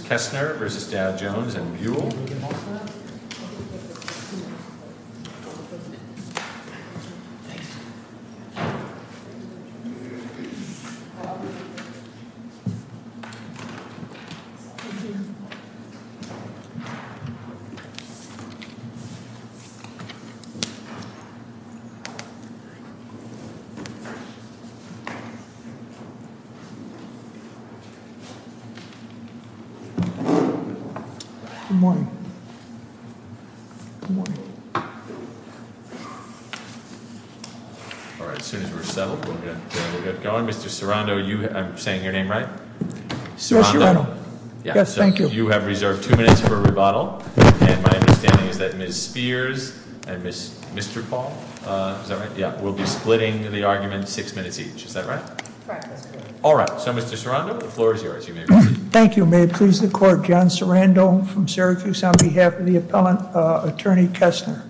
Kessner v. Dowd-Jones and Buhl Good morning. Good morning. All right, as soon as we're settled, we'll get going. Mr. Serrano, I'm saying your name right? Yes, you are. Yes, thank you. You have reserved two minutes for a rebuttal. And my understanding is that Ms. Spears and Mr. Paul, is that right? Yeah, will be splitting the argument six minutes each. Is that right? Correct, Mr. Chairman. All right, so Mr. Serrano, the floor is yours. You may begin. Thank you. May it please the court. John Serrano from Syracuse on behalf of the appellant attorney Kessner.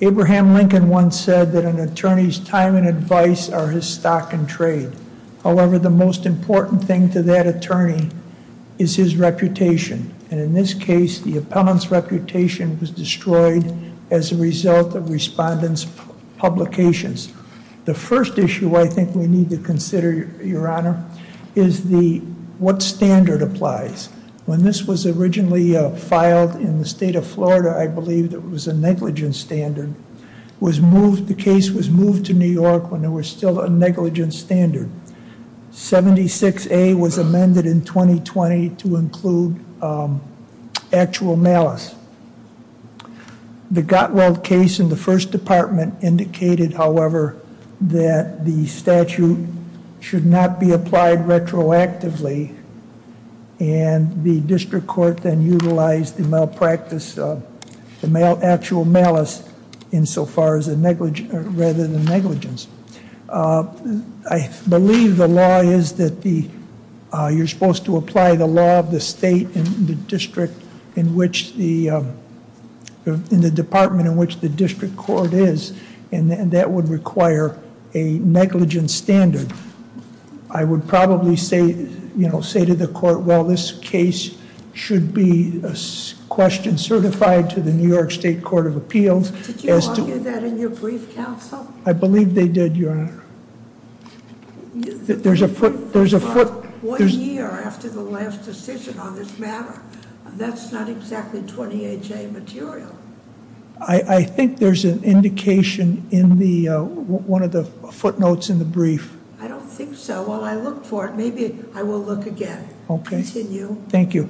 Abraham Lincoln once said that an attorney's time and advice are his stock and trade. However, the most important thing to that attorney is his reputation. And in this case, the appellant's reputation was destroyed as a result of respondents' publications. The first issue I think we need to consider, your honor, is what standard applies. When this was originally filed in the state of Florida, I believe it was a negligence standard. The case was moved to New York when there was still a negligence standard. 76A was amended in 2020 to include actual malice. The Gotwell case in the first department indicated however, that the statute should not be applied retroactively and the district court then utilized the malpractice, the actual malice insofar as a negligence, rather than negligence. I believe the law is that the you're supposed to apply the law of the state and the district in which the, in the department in which the district court is, and that would require a negligence standard. I would probably say, you know, say to the court, well, this case should be a question certified to the New York State Court of Appeals. Did you argue that in your brief counsel? I believe they did, your honor. There's a foot... One year after the last decision on this matter. That's not exactly 20HA material. I think there's an indication in the one of the footnotes in the brief. I don't think so. While I look for it, maybe I will look again. Continue. Thank you.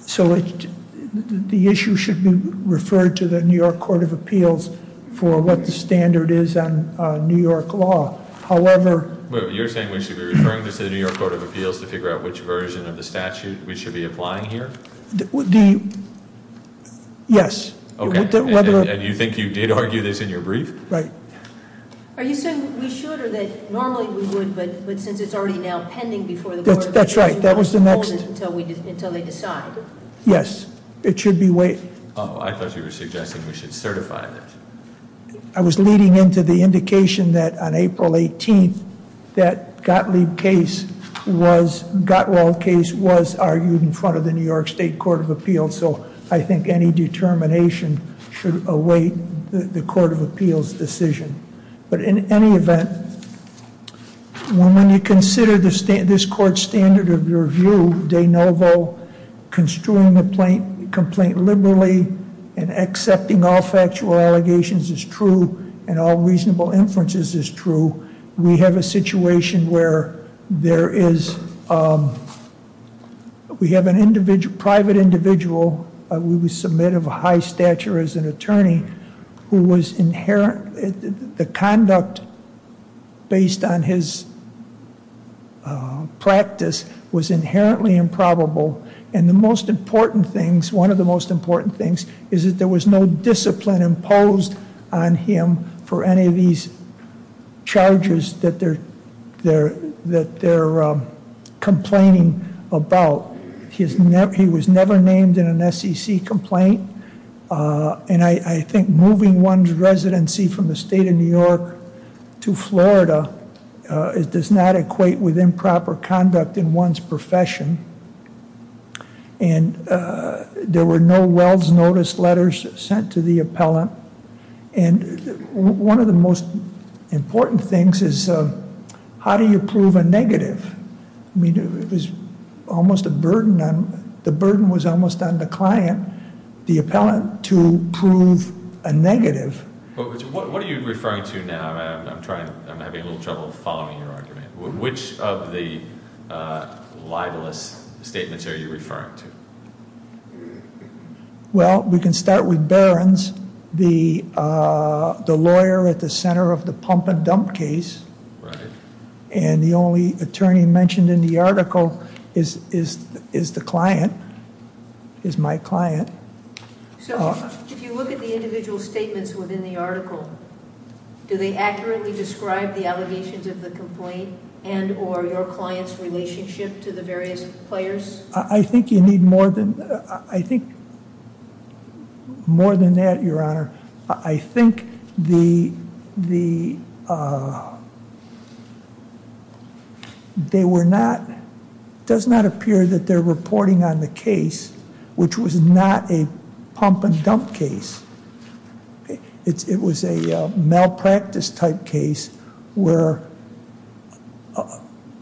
So the issue should be referred to the New York Court of Appeals for what the standard is on New York law. However... You're saying we should be referring this to the New York Court of Appeals to figure out which version of the statute we should be applying here? The... Yes. Okay. And you think you did argue this in your brief? Right. Are you saying we should, or that normally we would, but since it's already now pending before the court... That's right. That was the next... Until they decide. Yes. It should be waived. Oh, I thought you were suggesting we should certify that. I was leading into the indication that on April 18th that Gottlieb case was, Gottwald case was argued in front of the New York State Court of Appeals, so I think any determination should await the Court of Appeals' decision. But in any event, when you consider this court's standard of review, de novo, construing the complaint liberally, and accepting all factual allegations is true, and all reasonable inferences is true, we have a situation where there is... We have a private individual we submit of a high stature as an attorney who was inherent... The conduct based on his practice was inherently improbable, and the most important things, one of the most important things, is that there was no discipline imposed on him for any of these charges that they're complaining about. He was never named in an SEC complaint, and I think moving one's residency from the state of New York to Florida does not equate with improper conduct in one's profession, and there were no well's notice letters sent to the appellant, and one of the most How do you prove a negative? The burden was almost on the client, the appellant, to prove a negative. What are you referring to now? I'm having a little trouble following your argument. Which of the libelous statements are you referring to? Well, we can start with Barron's, the lawyer at the center of the pump and dump case, and the only attorney mentioned in the article is the client, is my client. So, if you look at the individual statements within the article, do they accurately describe the allegations of the complaint and or your client's relationship to the various players? I think you need more than... I think more than that, your honor. I think the they were not, it does not appear that they're reporting on the case, which was not a pump and dump case. It was a malpractice type case where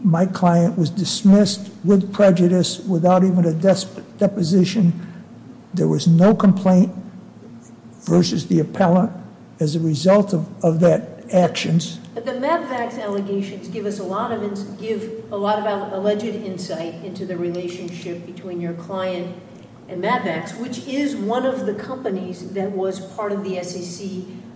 my client was dismissed with prejudice without even a deposition. There was no complaint versus the appellant as a result of that actions. The Madvax allegations give us a lot of alleged insight into the relationship between your client and Madvax, which is one of the companies that was part of the SAC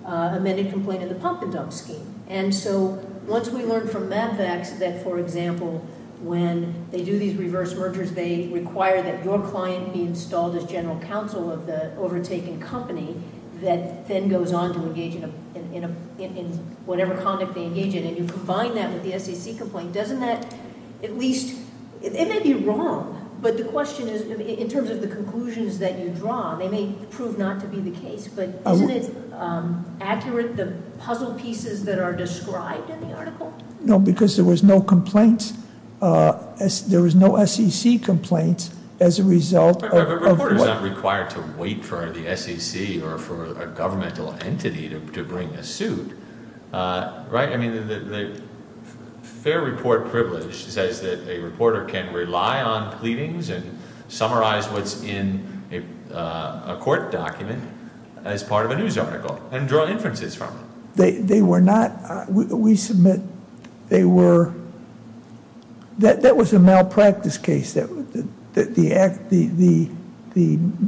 amended complaint in the pump and dump scheme. And so, once we learned from Madvax that, for example, when they do these reverse mergers, they require that your client be installed as general counsel of the overtaken company that then goes on to engage in whatever conduct they engage in. And you combine that with the SAC complaint, doesn't that at least, it may be wrong, but the question is, in terms of the conclusions that you draw, they may prove not to be the case, but isn't it accurate the puzzle pieces that are described in the article? No, because there was no complaint, there was no SAC complaint as a result of... But reporters aren't required to wait for the SAC or for a governmental entity to bring a suit, right? I mean, the fair report privilege says that a reporter can rely on pleadings and summarize what's in a court document as part of a news article and draw inferences from it. They were not... we submit they were... that was a malpractice case, the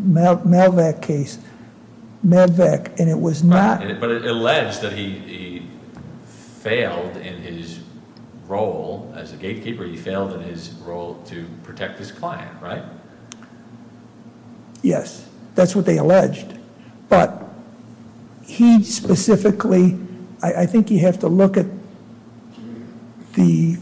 Malvac case, and it was not... But it alleged that he failed in his role as a gatekeeper, he failed in his role to protect his client, right? Yes, that's what they alleged, but he specifically... I think you have to look at the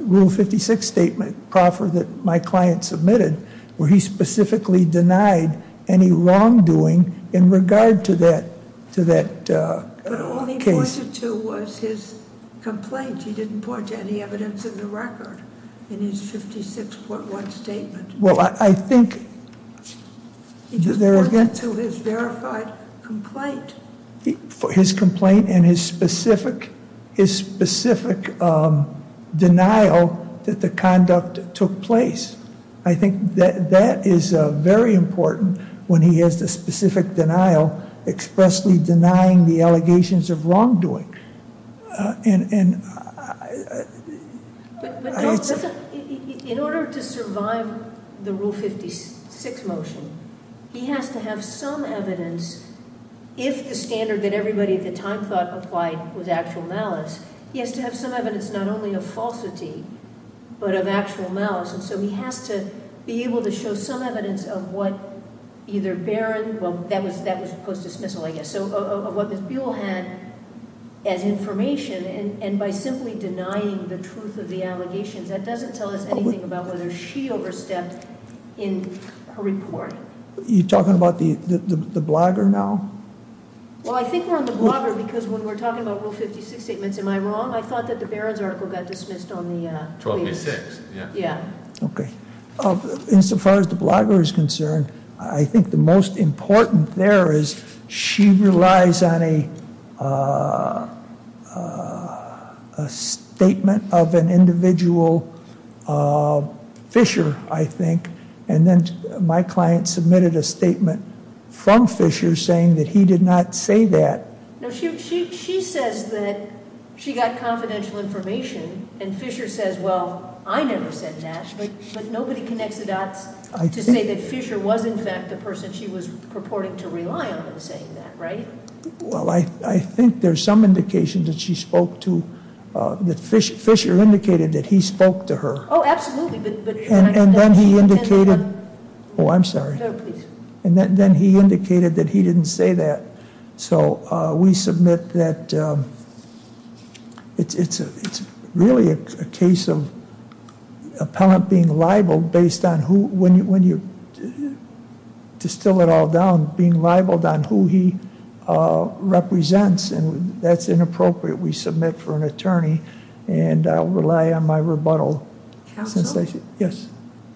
Rule 56 statement proffer that my client submitted, where he specifically denied any wrongdoing in regard to that case. But all he pointed to was his complaint. He didn't point to any evidence in the record in his 56.1 statement. Well, I think... He just pointed to his verified complaint. His complaint and his specific denial that the conduct took place. I think that is very important when he has the specific denial, expressly denying the allegations of wrongdoing. In order to survive the Rule 56 motion, he has to have some evidence, if the standard that everybody at the time thought applied was actual malice, he has to have some evidence not only of falsity, but of actual malice. And so he has to be able to show some evidence of what either Baron... Well, that was post-dismissal, I guess. So, of what Ms. Buell had as information, and by simply denying the truth of the allegations, that doesn't tell us anything about whether she overstepped in her report. You're talking about the blogger now? Well, I think we're on the blogger because when we're talking about Rule 56 statements, am I wrong? I thought that the Baron's article got dismissed on the... 1286. Yeah. Okay. Insofar as the blogger is concerned, I think the most important there is she relies on a statement of an individual fisher, I think, and then my client submitted a statement from Fisher saying that he did not say that. She says that she got confidential information, and Fisher says, well, I never said that, but nobody connects the dots to say that Fisher was, in fact, the person she was purporting to rely on in saying that, right? Well, I think there's some indication that she spoke to... that Fisher indicated that he spoke to her. Oh, absolutely, but... And then he indicated... Oh, I'm sorry. No, please. And then he indicated that he didn't say that. So we submit that it's really a case of appellant being libeled based on who... distill it all down, being libeled on who he represents, and that's inappropriate. We submit for an attorney, and I'll rely on my rebuttal. Counsel? Yes.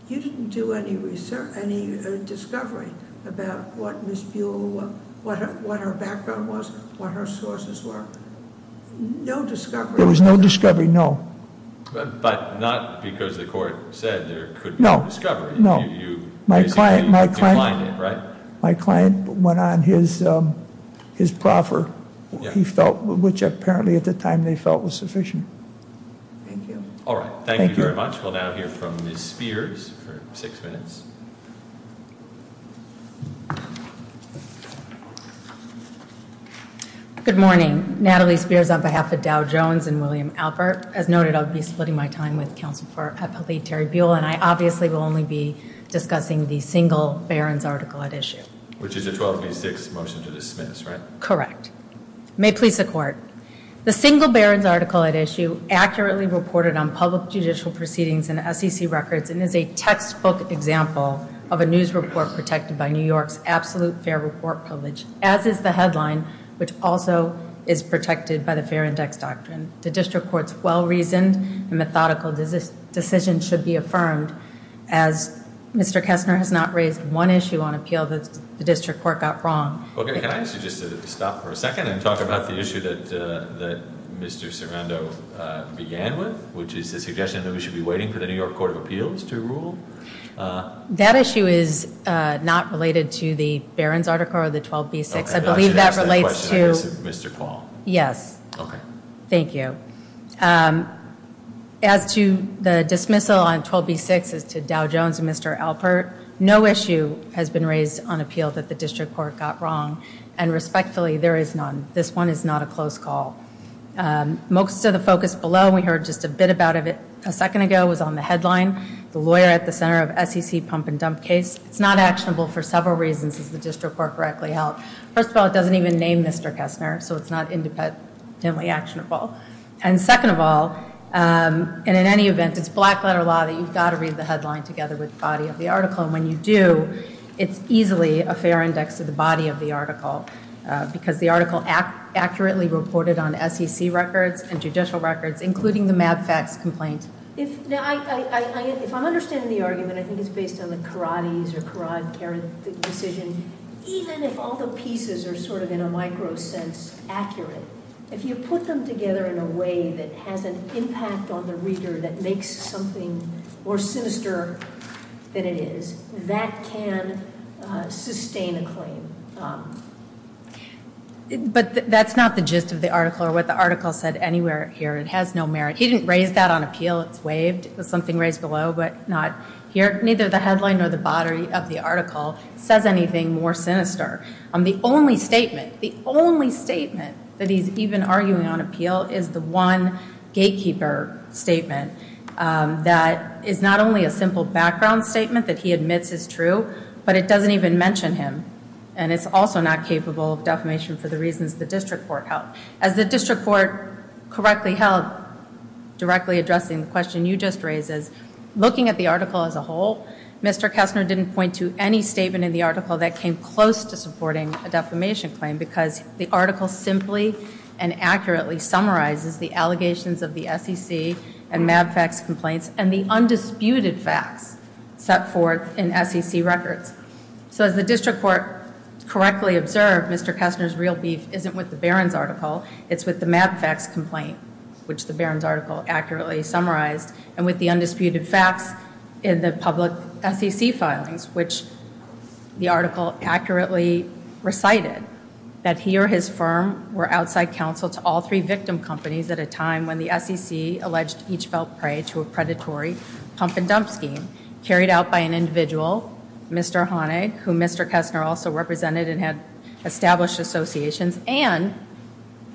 You didn't do any research... any discovery about what Ms. Buell... what her background was, what her sources were. No discovery. There was no discovery, no. But not because the court said there could be no discovery. No. You basically declined it, right? My client went on his proffer, which apparently Thank you very much. We'll now hear from Ms. Spears for six minutes. Good morning. Natalie Spears on behalf of Dow Jones and William Albert. As noted, I'll be splitting my time with Counsel for Appellate Terry Buell, and I obviously will only be discussing the single Barron's article at issue. Which is a 1286 motion to dismiss, right? Correct. May it please the Court. The single Barron's article at issue accurately reported on public judicial proceedings and SEC records and is a textbook example of a news report protected by New York's absolute fair report privilege, as is the headline, which also is protected by the Fair Index Doctrine. The District Court's well-reasoned and methodical decision should be affirmed, as Mr. Kessner has not raised one issue on appeal that the District Court got wrong. Okay. Can I ask you just to stop for a second and talk about the issue that Mr. Sarando began with, which is the suggestion that we should be waiting for the New York Court of Appeals to rule? That issue is not related to the Barron's article or the 12B6. I believe that relates to- Mr. Paul. Yes. Okay. Thank you. As to the dismissal on 12B6 as to Dow Jones and Mr. Albert, no issue has been raised on appeal that the District Court got wrong. And respectfully, there is none. This one is not a close call. Most of the focus below, we heard just a bit about it a second ago, was on the headline, the lawyer at the center of SEC pump and dump case. It's not actionable for several reasons, as the District Court correctly held. First of all, it doesn't even name Mr. Kessner, so it's not independently actionable. And second of all, and in any event, it's black letter law that you've got to read the headline together with the body of the article. And when you do, it's easily a fair index of the body of the article because the article accurately reported on SEC records and judicial records, including the Mad Facts complaint. If I'm understanding the argument, I think it's based on the Karate's or Karate decision. Even if all the pieces are sort of in a micro sense accurate, if you put them together in a way that has an impact on the reader that makes something more sinister than it is, that can sustain a claim. But that's not the gist of the article or what the article said anywhere here. It has no merit. He didn't raise that on appeal. It's waived. It was something raised below, but not here. Neither the headline nor the body of the article says anything more sinister. The only statement, the only statement that he's even arguing on appeal is the one gatekeeper statement that is not only a simple background statement that he admits is true, but it doesn't even mention him. And it's also not capable of defamation for the reasons the district court held. As the district court correctly held, directly addressing the question you just raised, is looking at the article as a whole, Mr. Kessner didn't point to any statement in the article that came close to supporting a defamation claim because the article simply and accurately summarizes the allegations of the SEC and Mad Facts complaints and the undisputed facts set forth in SEC records. So as the district court correctly observed, Mr. Kessner's real beef isn't with the Barron's article, it's with the Mad Facts complaint, which the Barron's article accurately summarized, and with the undisputed facts in the public SEC filings, which the article accurately recited, that he or his firm were outside counsel to all three victim companies at a time when the SEC alleged each felt prey to a complaint carried out by an individual, Mr. Honig, who Mr. Kessner also represented and had established associations, and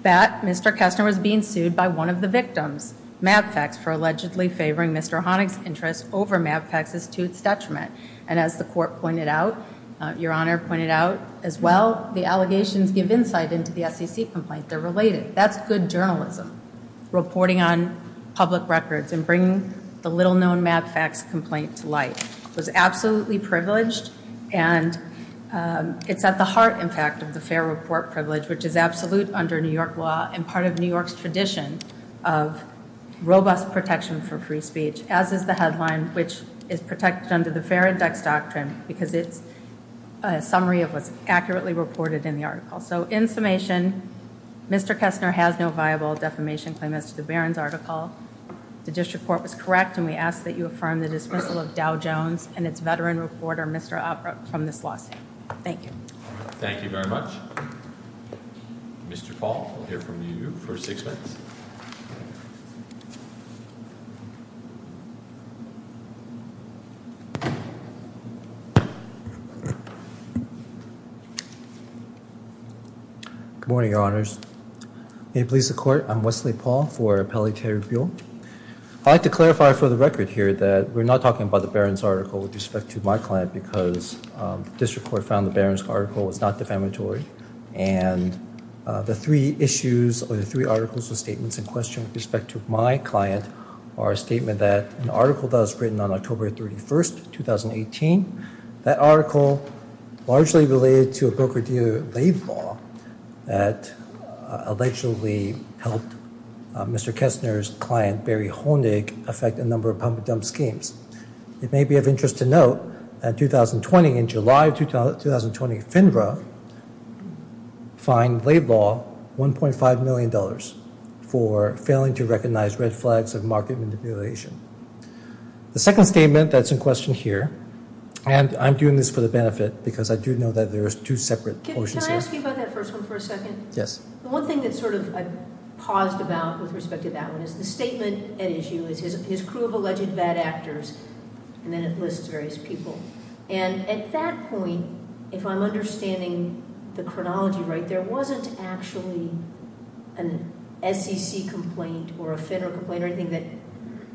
that Mr. Kessner was being sued by one of the victims, Mad Facts, for allegedly favoring Mr. Honig's interests over Mad Facts' detriment. And as the court pointed out, Your Honor pointed out as well, the allegations give insight into the SEC complaint, they're related. That's good journalism, reporting on public records and bringing the little-known Mad Facts complaint to light. It was absolutely privileged and it's at the heart, in fact, of the Fair Report privilege, which is absolute under New York law and part of New York's tradition of robust protection for free speech, as is the headline, which is protected under the Fair Index Doctrine because it's a summary of what's accurately reported in the article. So in summation, Mr. Kessner has no viable defamation claim as to the Barron's article. The district court was correct and we ask that you affirm the dismissal of Dow Jones and its veteran reporter, Mr. Upbrook, from this lawsuit. Thank you. Thank you very much. Mr. Paul, we'll hear from you for six minutes. Good morning, Your Honors. May it please the court, I'm Wesley Paul for Pelletier Rebuild. I'd like to clarify for the record here that we're not talking about the Barron's article with respect to my client because the district court found the Barron's article was not defamatory and the three issues or the three articles or statements in question with respect to my client are a statement that an article that was written on October 31st, 2018, that article largely related to a broker-dealer lay law that allegedly helped Mr. Kessner's client Barry Honig affect a number of pump-and-dump schemes. It may be of interest to note that 2020, in July of 2020, FINRA fined lay law $1.5 million for failing to recognize red flags of market manipulation. The second statement that's in question here, and I'm doing this for the benefit because I do know that there's two separate motions here. Can I ask you about that first one for a second? Yes. The one thing that sort of I paused about with respect to that one is the statement at issue is his crew of alleged bad actors, and then it lists various people, and at that point, if I'm understanding the chronology right, there wasn't actually an SEC complaint or a FINRA complaint or anything that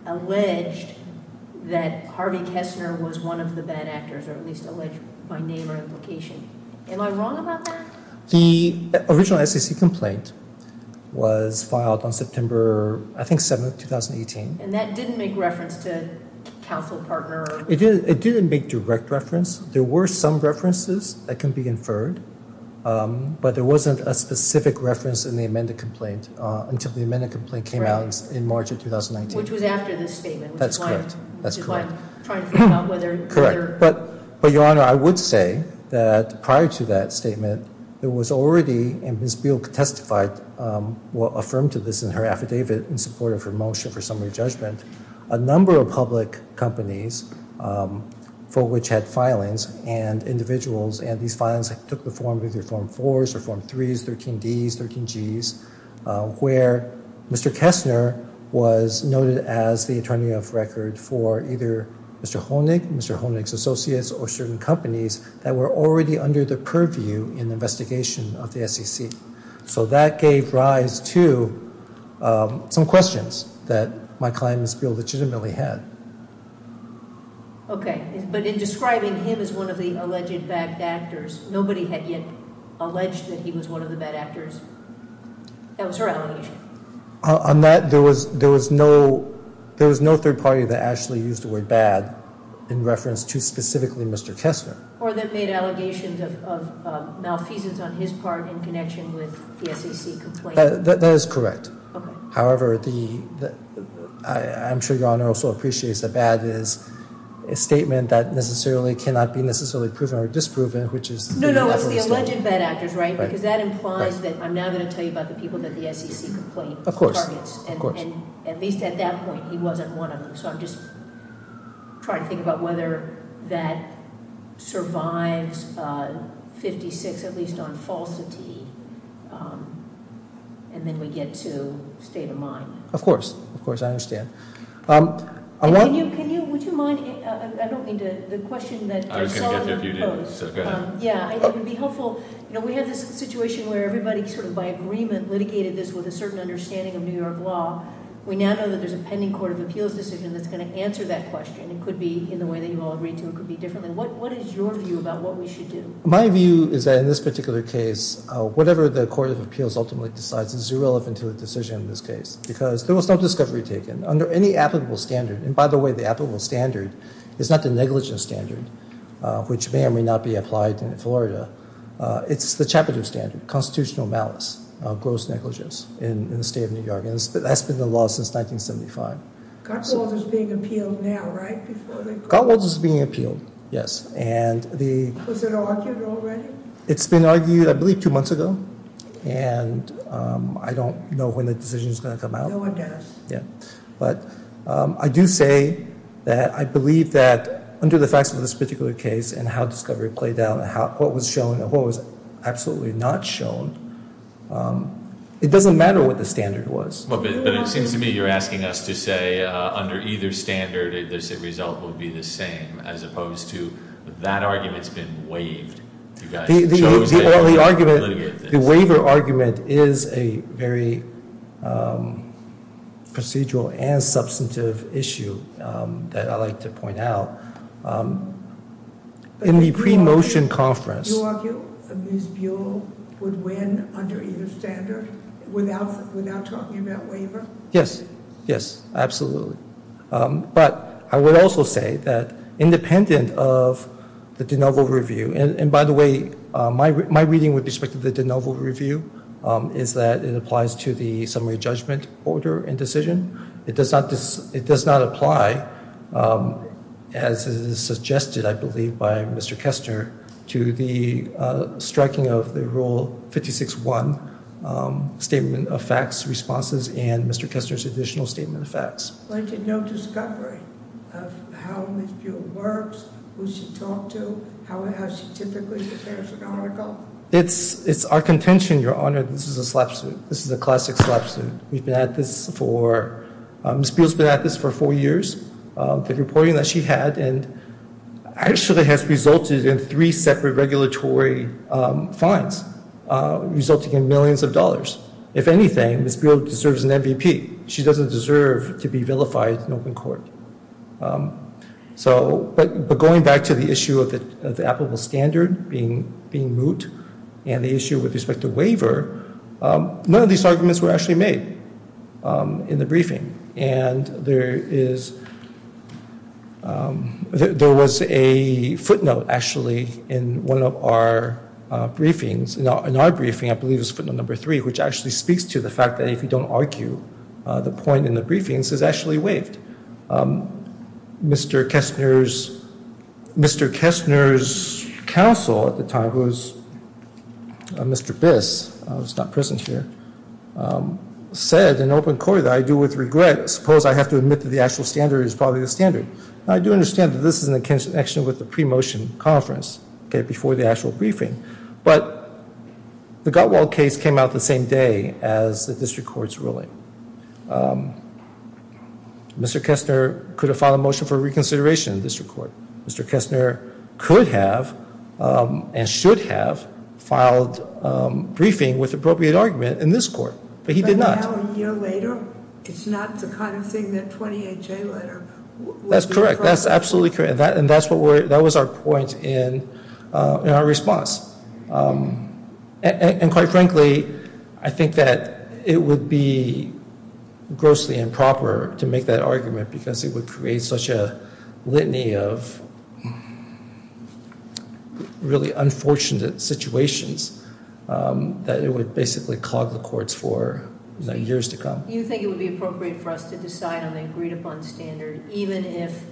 alleged that Harvey Kessner was one of the bad actors, or at least alleged by name or identification. Am I wrong about that? The original SEC complaint was filed on September, I think, 7th, 2018. And that didn't make reference to counsel partner? It didn't make direct reference. There were some references that can be inferred, but there wasn't a specific reference in the amended complaint until the amended complaint came out in March of 2019. Which was after this statement. That's correct. Which is why I'm trying to figure out whether... But, Your Honor, I would say that prior to that statement, there was already, and Ms. Beal testified, affirmed to this in her affidavit in support of her motion for summary judgment, a number of public companies for which had filings and individuals, and these filings took the form of either Form 4s or Form 3s, 13Ds, 13Gs, where Mr. Kessner was noted as the attorney of record for either Mr. Honig, Mr. Honig's associates, or certain companies that were already under the purview in the investigation of the SEC. So that gave rise to some questions that my client, Ms. Beal, legitimately had. Okay. But in describing him as one of the alleged bad actors, nobody had yet alleged that he was one of the bad actors? That was her allegation. On that, there was no third party that actually used the word bad in reference to specifically Mr. Kessner. Or that made allegations of malfeasance on his part in connection with the SEC complaint? That is correct. However, I'm sure Your Honor also appreciates that bad is a statement that cannot be necessarily proven or disproven, which is... No, no, the alleged bad actors, right? Because that implies that I'm now going to tell you about the people that the SEC complaint targets. Of course. And at least at that point, he wasn't one of them. So I'm just trying to think about whether that survives 56, at least on falsity. And then we get to state of mind. Of course. Of course. I understand. Would you mind, I don't mean to... I was going to get to you if you didn't, so go ahead. It would be helpful, you know, we have this situation where everybody sort of by agreement litigated this with a certain understanding of New York law. We now know that there's a pending Court of Appeals decision that's going to answer that question. It could be in the way that you all agreed to, it could be differently. What is your view about what we should do? My view is that in this particular case, whatever the Court of Appeals ultimately decides is irrelevant to the decision in this case. Because there was no discovery taken. Under any applicable standard, and by the way, the applicable standard is not the negligence standard, which may or may not be applied in Florida. It's the chapter two standard, constitutional malice, gross negligence, in the state of New York. That's been the law since 1975. Gotwals is being appealed now, right? Gotwals is being appealed, yes. And the... Was it argued already? It's been argued, I believe, two months ago. And I don't know when the decision is going to come out. No one does. But I do say that I believe that under the facts of this particular case and how discovery played out and what was shown it doesn't matter what the standard was. But it seems to me you're asking us to say under either standard the result will be the same as opposed to that argument's been waived. The waiver argument is a very procedural and substantive issue that I'd like to point out. In the pre-motion conference... Did you argue that Ms. Buell would win under either standard without talking about waiver? Yes. Yes. Absolutely. But I would also say that independent of the de novo review, and by the way, my reading with respect to the de novo review is that it applies to the summary judgment order and decision. It does not apply, as is suggested, I believe, by Mr. Kessner to the striking of the Rule 56-1 statement of facts, responses and Mr. Kessner's additional statement of facts. Like in no discovery of how Ms. Buell works, who she talked to, how she typically prepares an article? It's our contention, Your Honor, that this is a slap suit. This is a classic slap suit. Ms. Buell's been at this for four years. The reporting that she had actually has resulted in three separate regulatory fines, resulting in millions of dollars. If anything, Ms. Buell deserves an MVP. She doesn't deserve to be vilified in open court. But going back to the issue of the applicable standard being moot and the issue with respect to waiver, none of these arguments were actually made in the briefing. And there is there was a footnote, actually, in one of our briefings, in our briefing, I believe it was footnote number three, which actually speaks to the fact that if you don't argue the point in the briefings is actually waived. Mr. Kessner's counsel at the time, who was Mr. Biss, who's not present here, said in open court that I do with regret, suppose I have to admit that the actual standard is probably the standard. I do understand that this is in connection with the pre-motion conference before the actual briefing. But the Gutwald case came out the same day as the district court's ruling. Mr. Kessner could have filed a motion for reconsideration in the district court. Mr. Kessner could have, and should have, filed briefing with appropriate argument in this court. But he did not. And now, a year later, it's not the kind of thing that 28J letter That's correct. That's absolutely correct. And that's what we're, that was our point in our response. And quite frankly, I think that it would be grossly improper to make that argument because it would create such a litany of really unfortunate situations that it would basically clog the courts for years to come. You think it would be appropriate for us to decide on the agreed-upon standard even if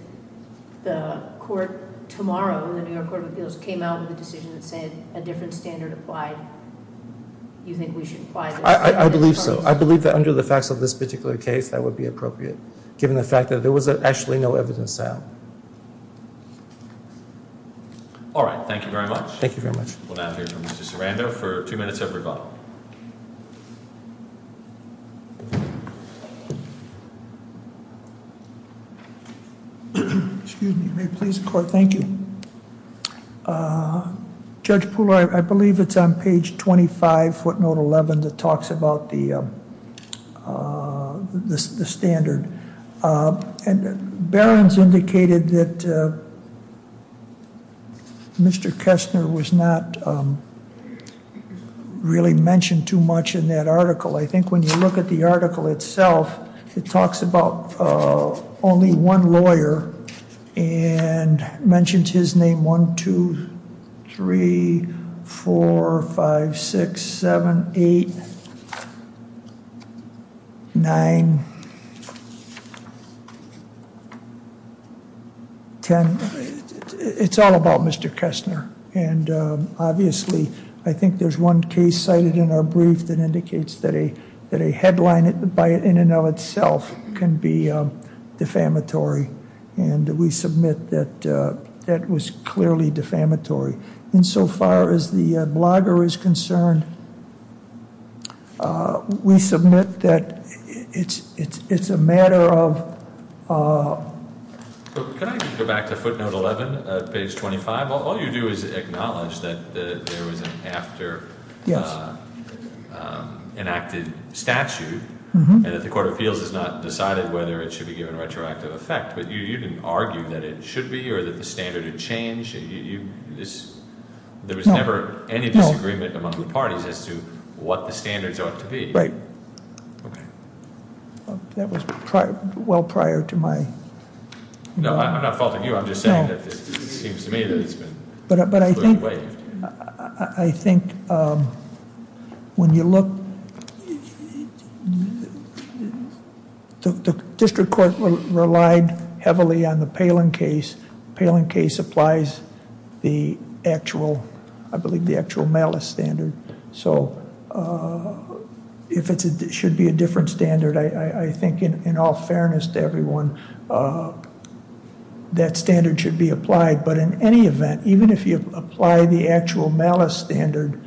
the court tomorrow, the New York Court of Appeals, came out with a decision that said a different standard applied? You think we should apply the standard? I believe so. I believe that under the facts of this particular case, that would be appropriate. Given the fact that there was actually no evidence out. All right. Thank you very much. Thank you very much. We'll now hear from Mr. Sarando for two minutes of rebuttal. Excuse me. May it please the court. Thank you. Judge Pooler, I believe it's on page 25, footnote 11, that talks about the standard. Barron's indicated that Mr. Kessner was not really mentioned too much in that article. I think when you look at the article itself, it talks about only one lawyer and mentions his name 1, 2, 3, 4, 5, 6, 7, 8, 9, 10. It's all about Mr. Kessner. Obviously, I think there's one case cited in our brief that indicates that a headline in and of itself can be defamatory. We submit that that was clearly defamatory. So far as the blogger is concerned, we It's a matter of Can I go back to footnote 11, page 25? All you do is acknowledge that there was an after enacted statute and that the court of appeals has not decided whether it should be given retroactive effect, but you didn't argue that it should be or that the standard had changed. There was never any disagreement among the parties as to what the standards ought to be. Right. That was well prior to my I'm not faulting you. I'm just saying that it seems to me that it's been I think when you look the district court relied heavily on the Palin case. The Palin case applies the actual malice standard. So if it should be a different standard, I think in all fairness to everyone, that standard should be applied. But in any event, even if you apply the actual malice standard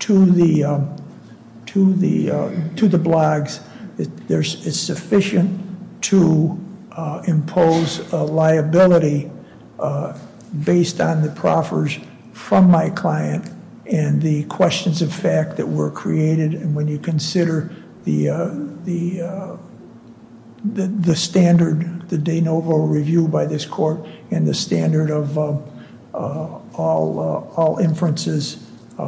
to the blogs, it's sufficient to impose a liability based on the proffers from my client and the questions of fact that were created and when you consider the standard, the de novo review by this court and the standard of all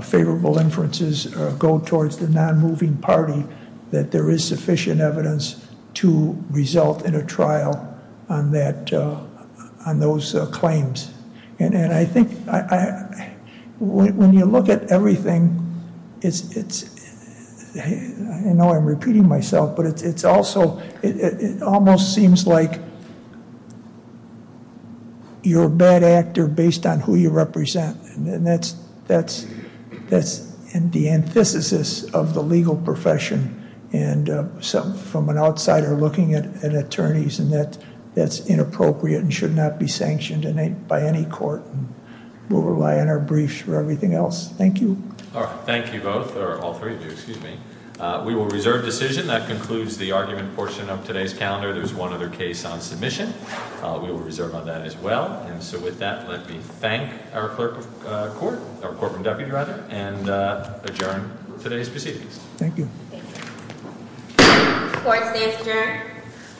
favorable inferences go towards the non-moving party, that there is sufficient evidence to result in a trial on those claims. And I think when you look at everything I know I'm repeating myself, but it's also it almost seems like you're a bad actor based on who you represent. And the antithesis of the legal profession from an outsider looking at attorneys and that's inappropriate and should not be sanctioned by any court. We'll rely on our briefs for everything else. Thank you. Thank you both, or all three of you, excuse me. We will reserve decision. That concludes the argument portion of today's calendar. There's one other case on submission. We will reserve on that as well. And so with that, let me thank our clerk of court, our corporate deputy rather, and adjourn today's proceedings. Thank you.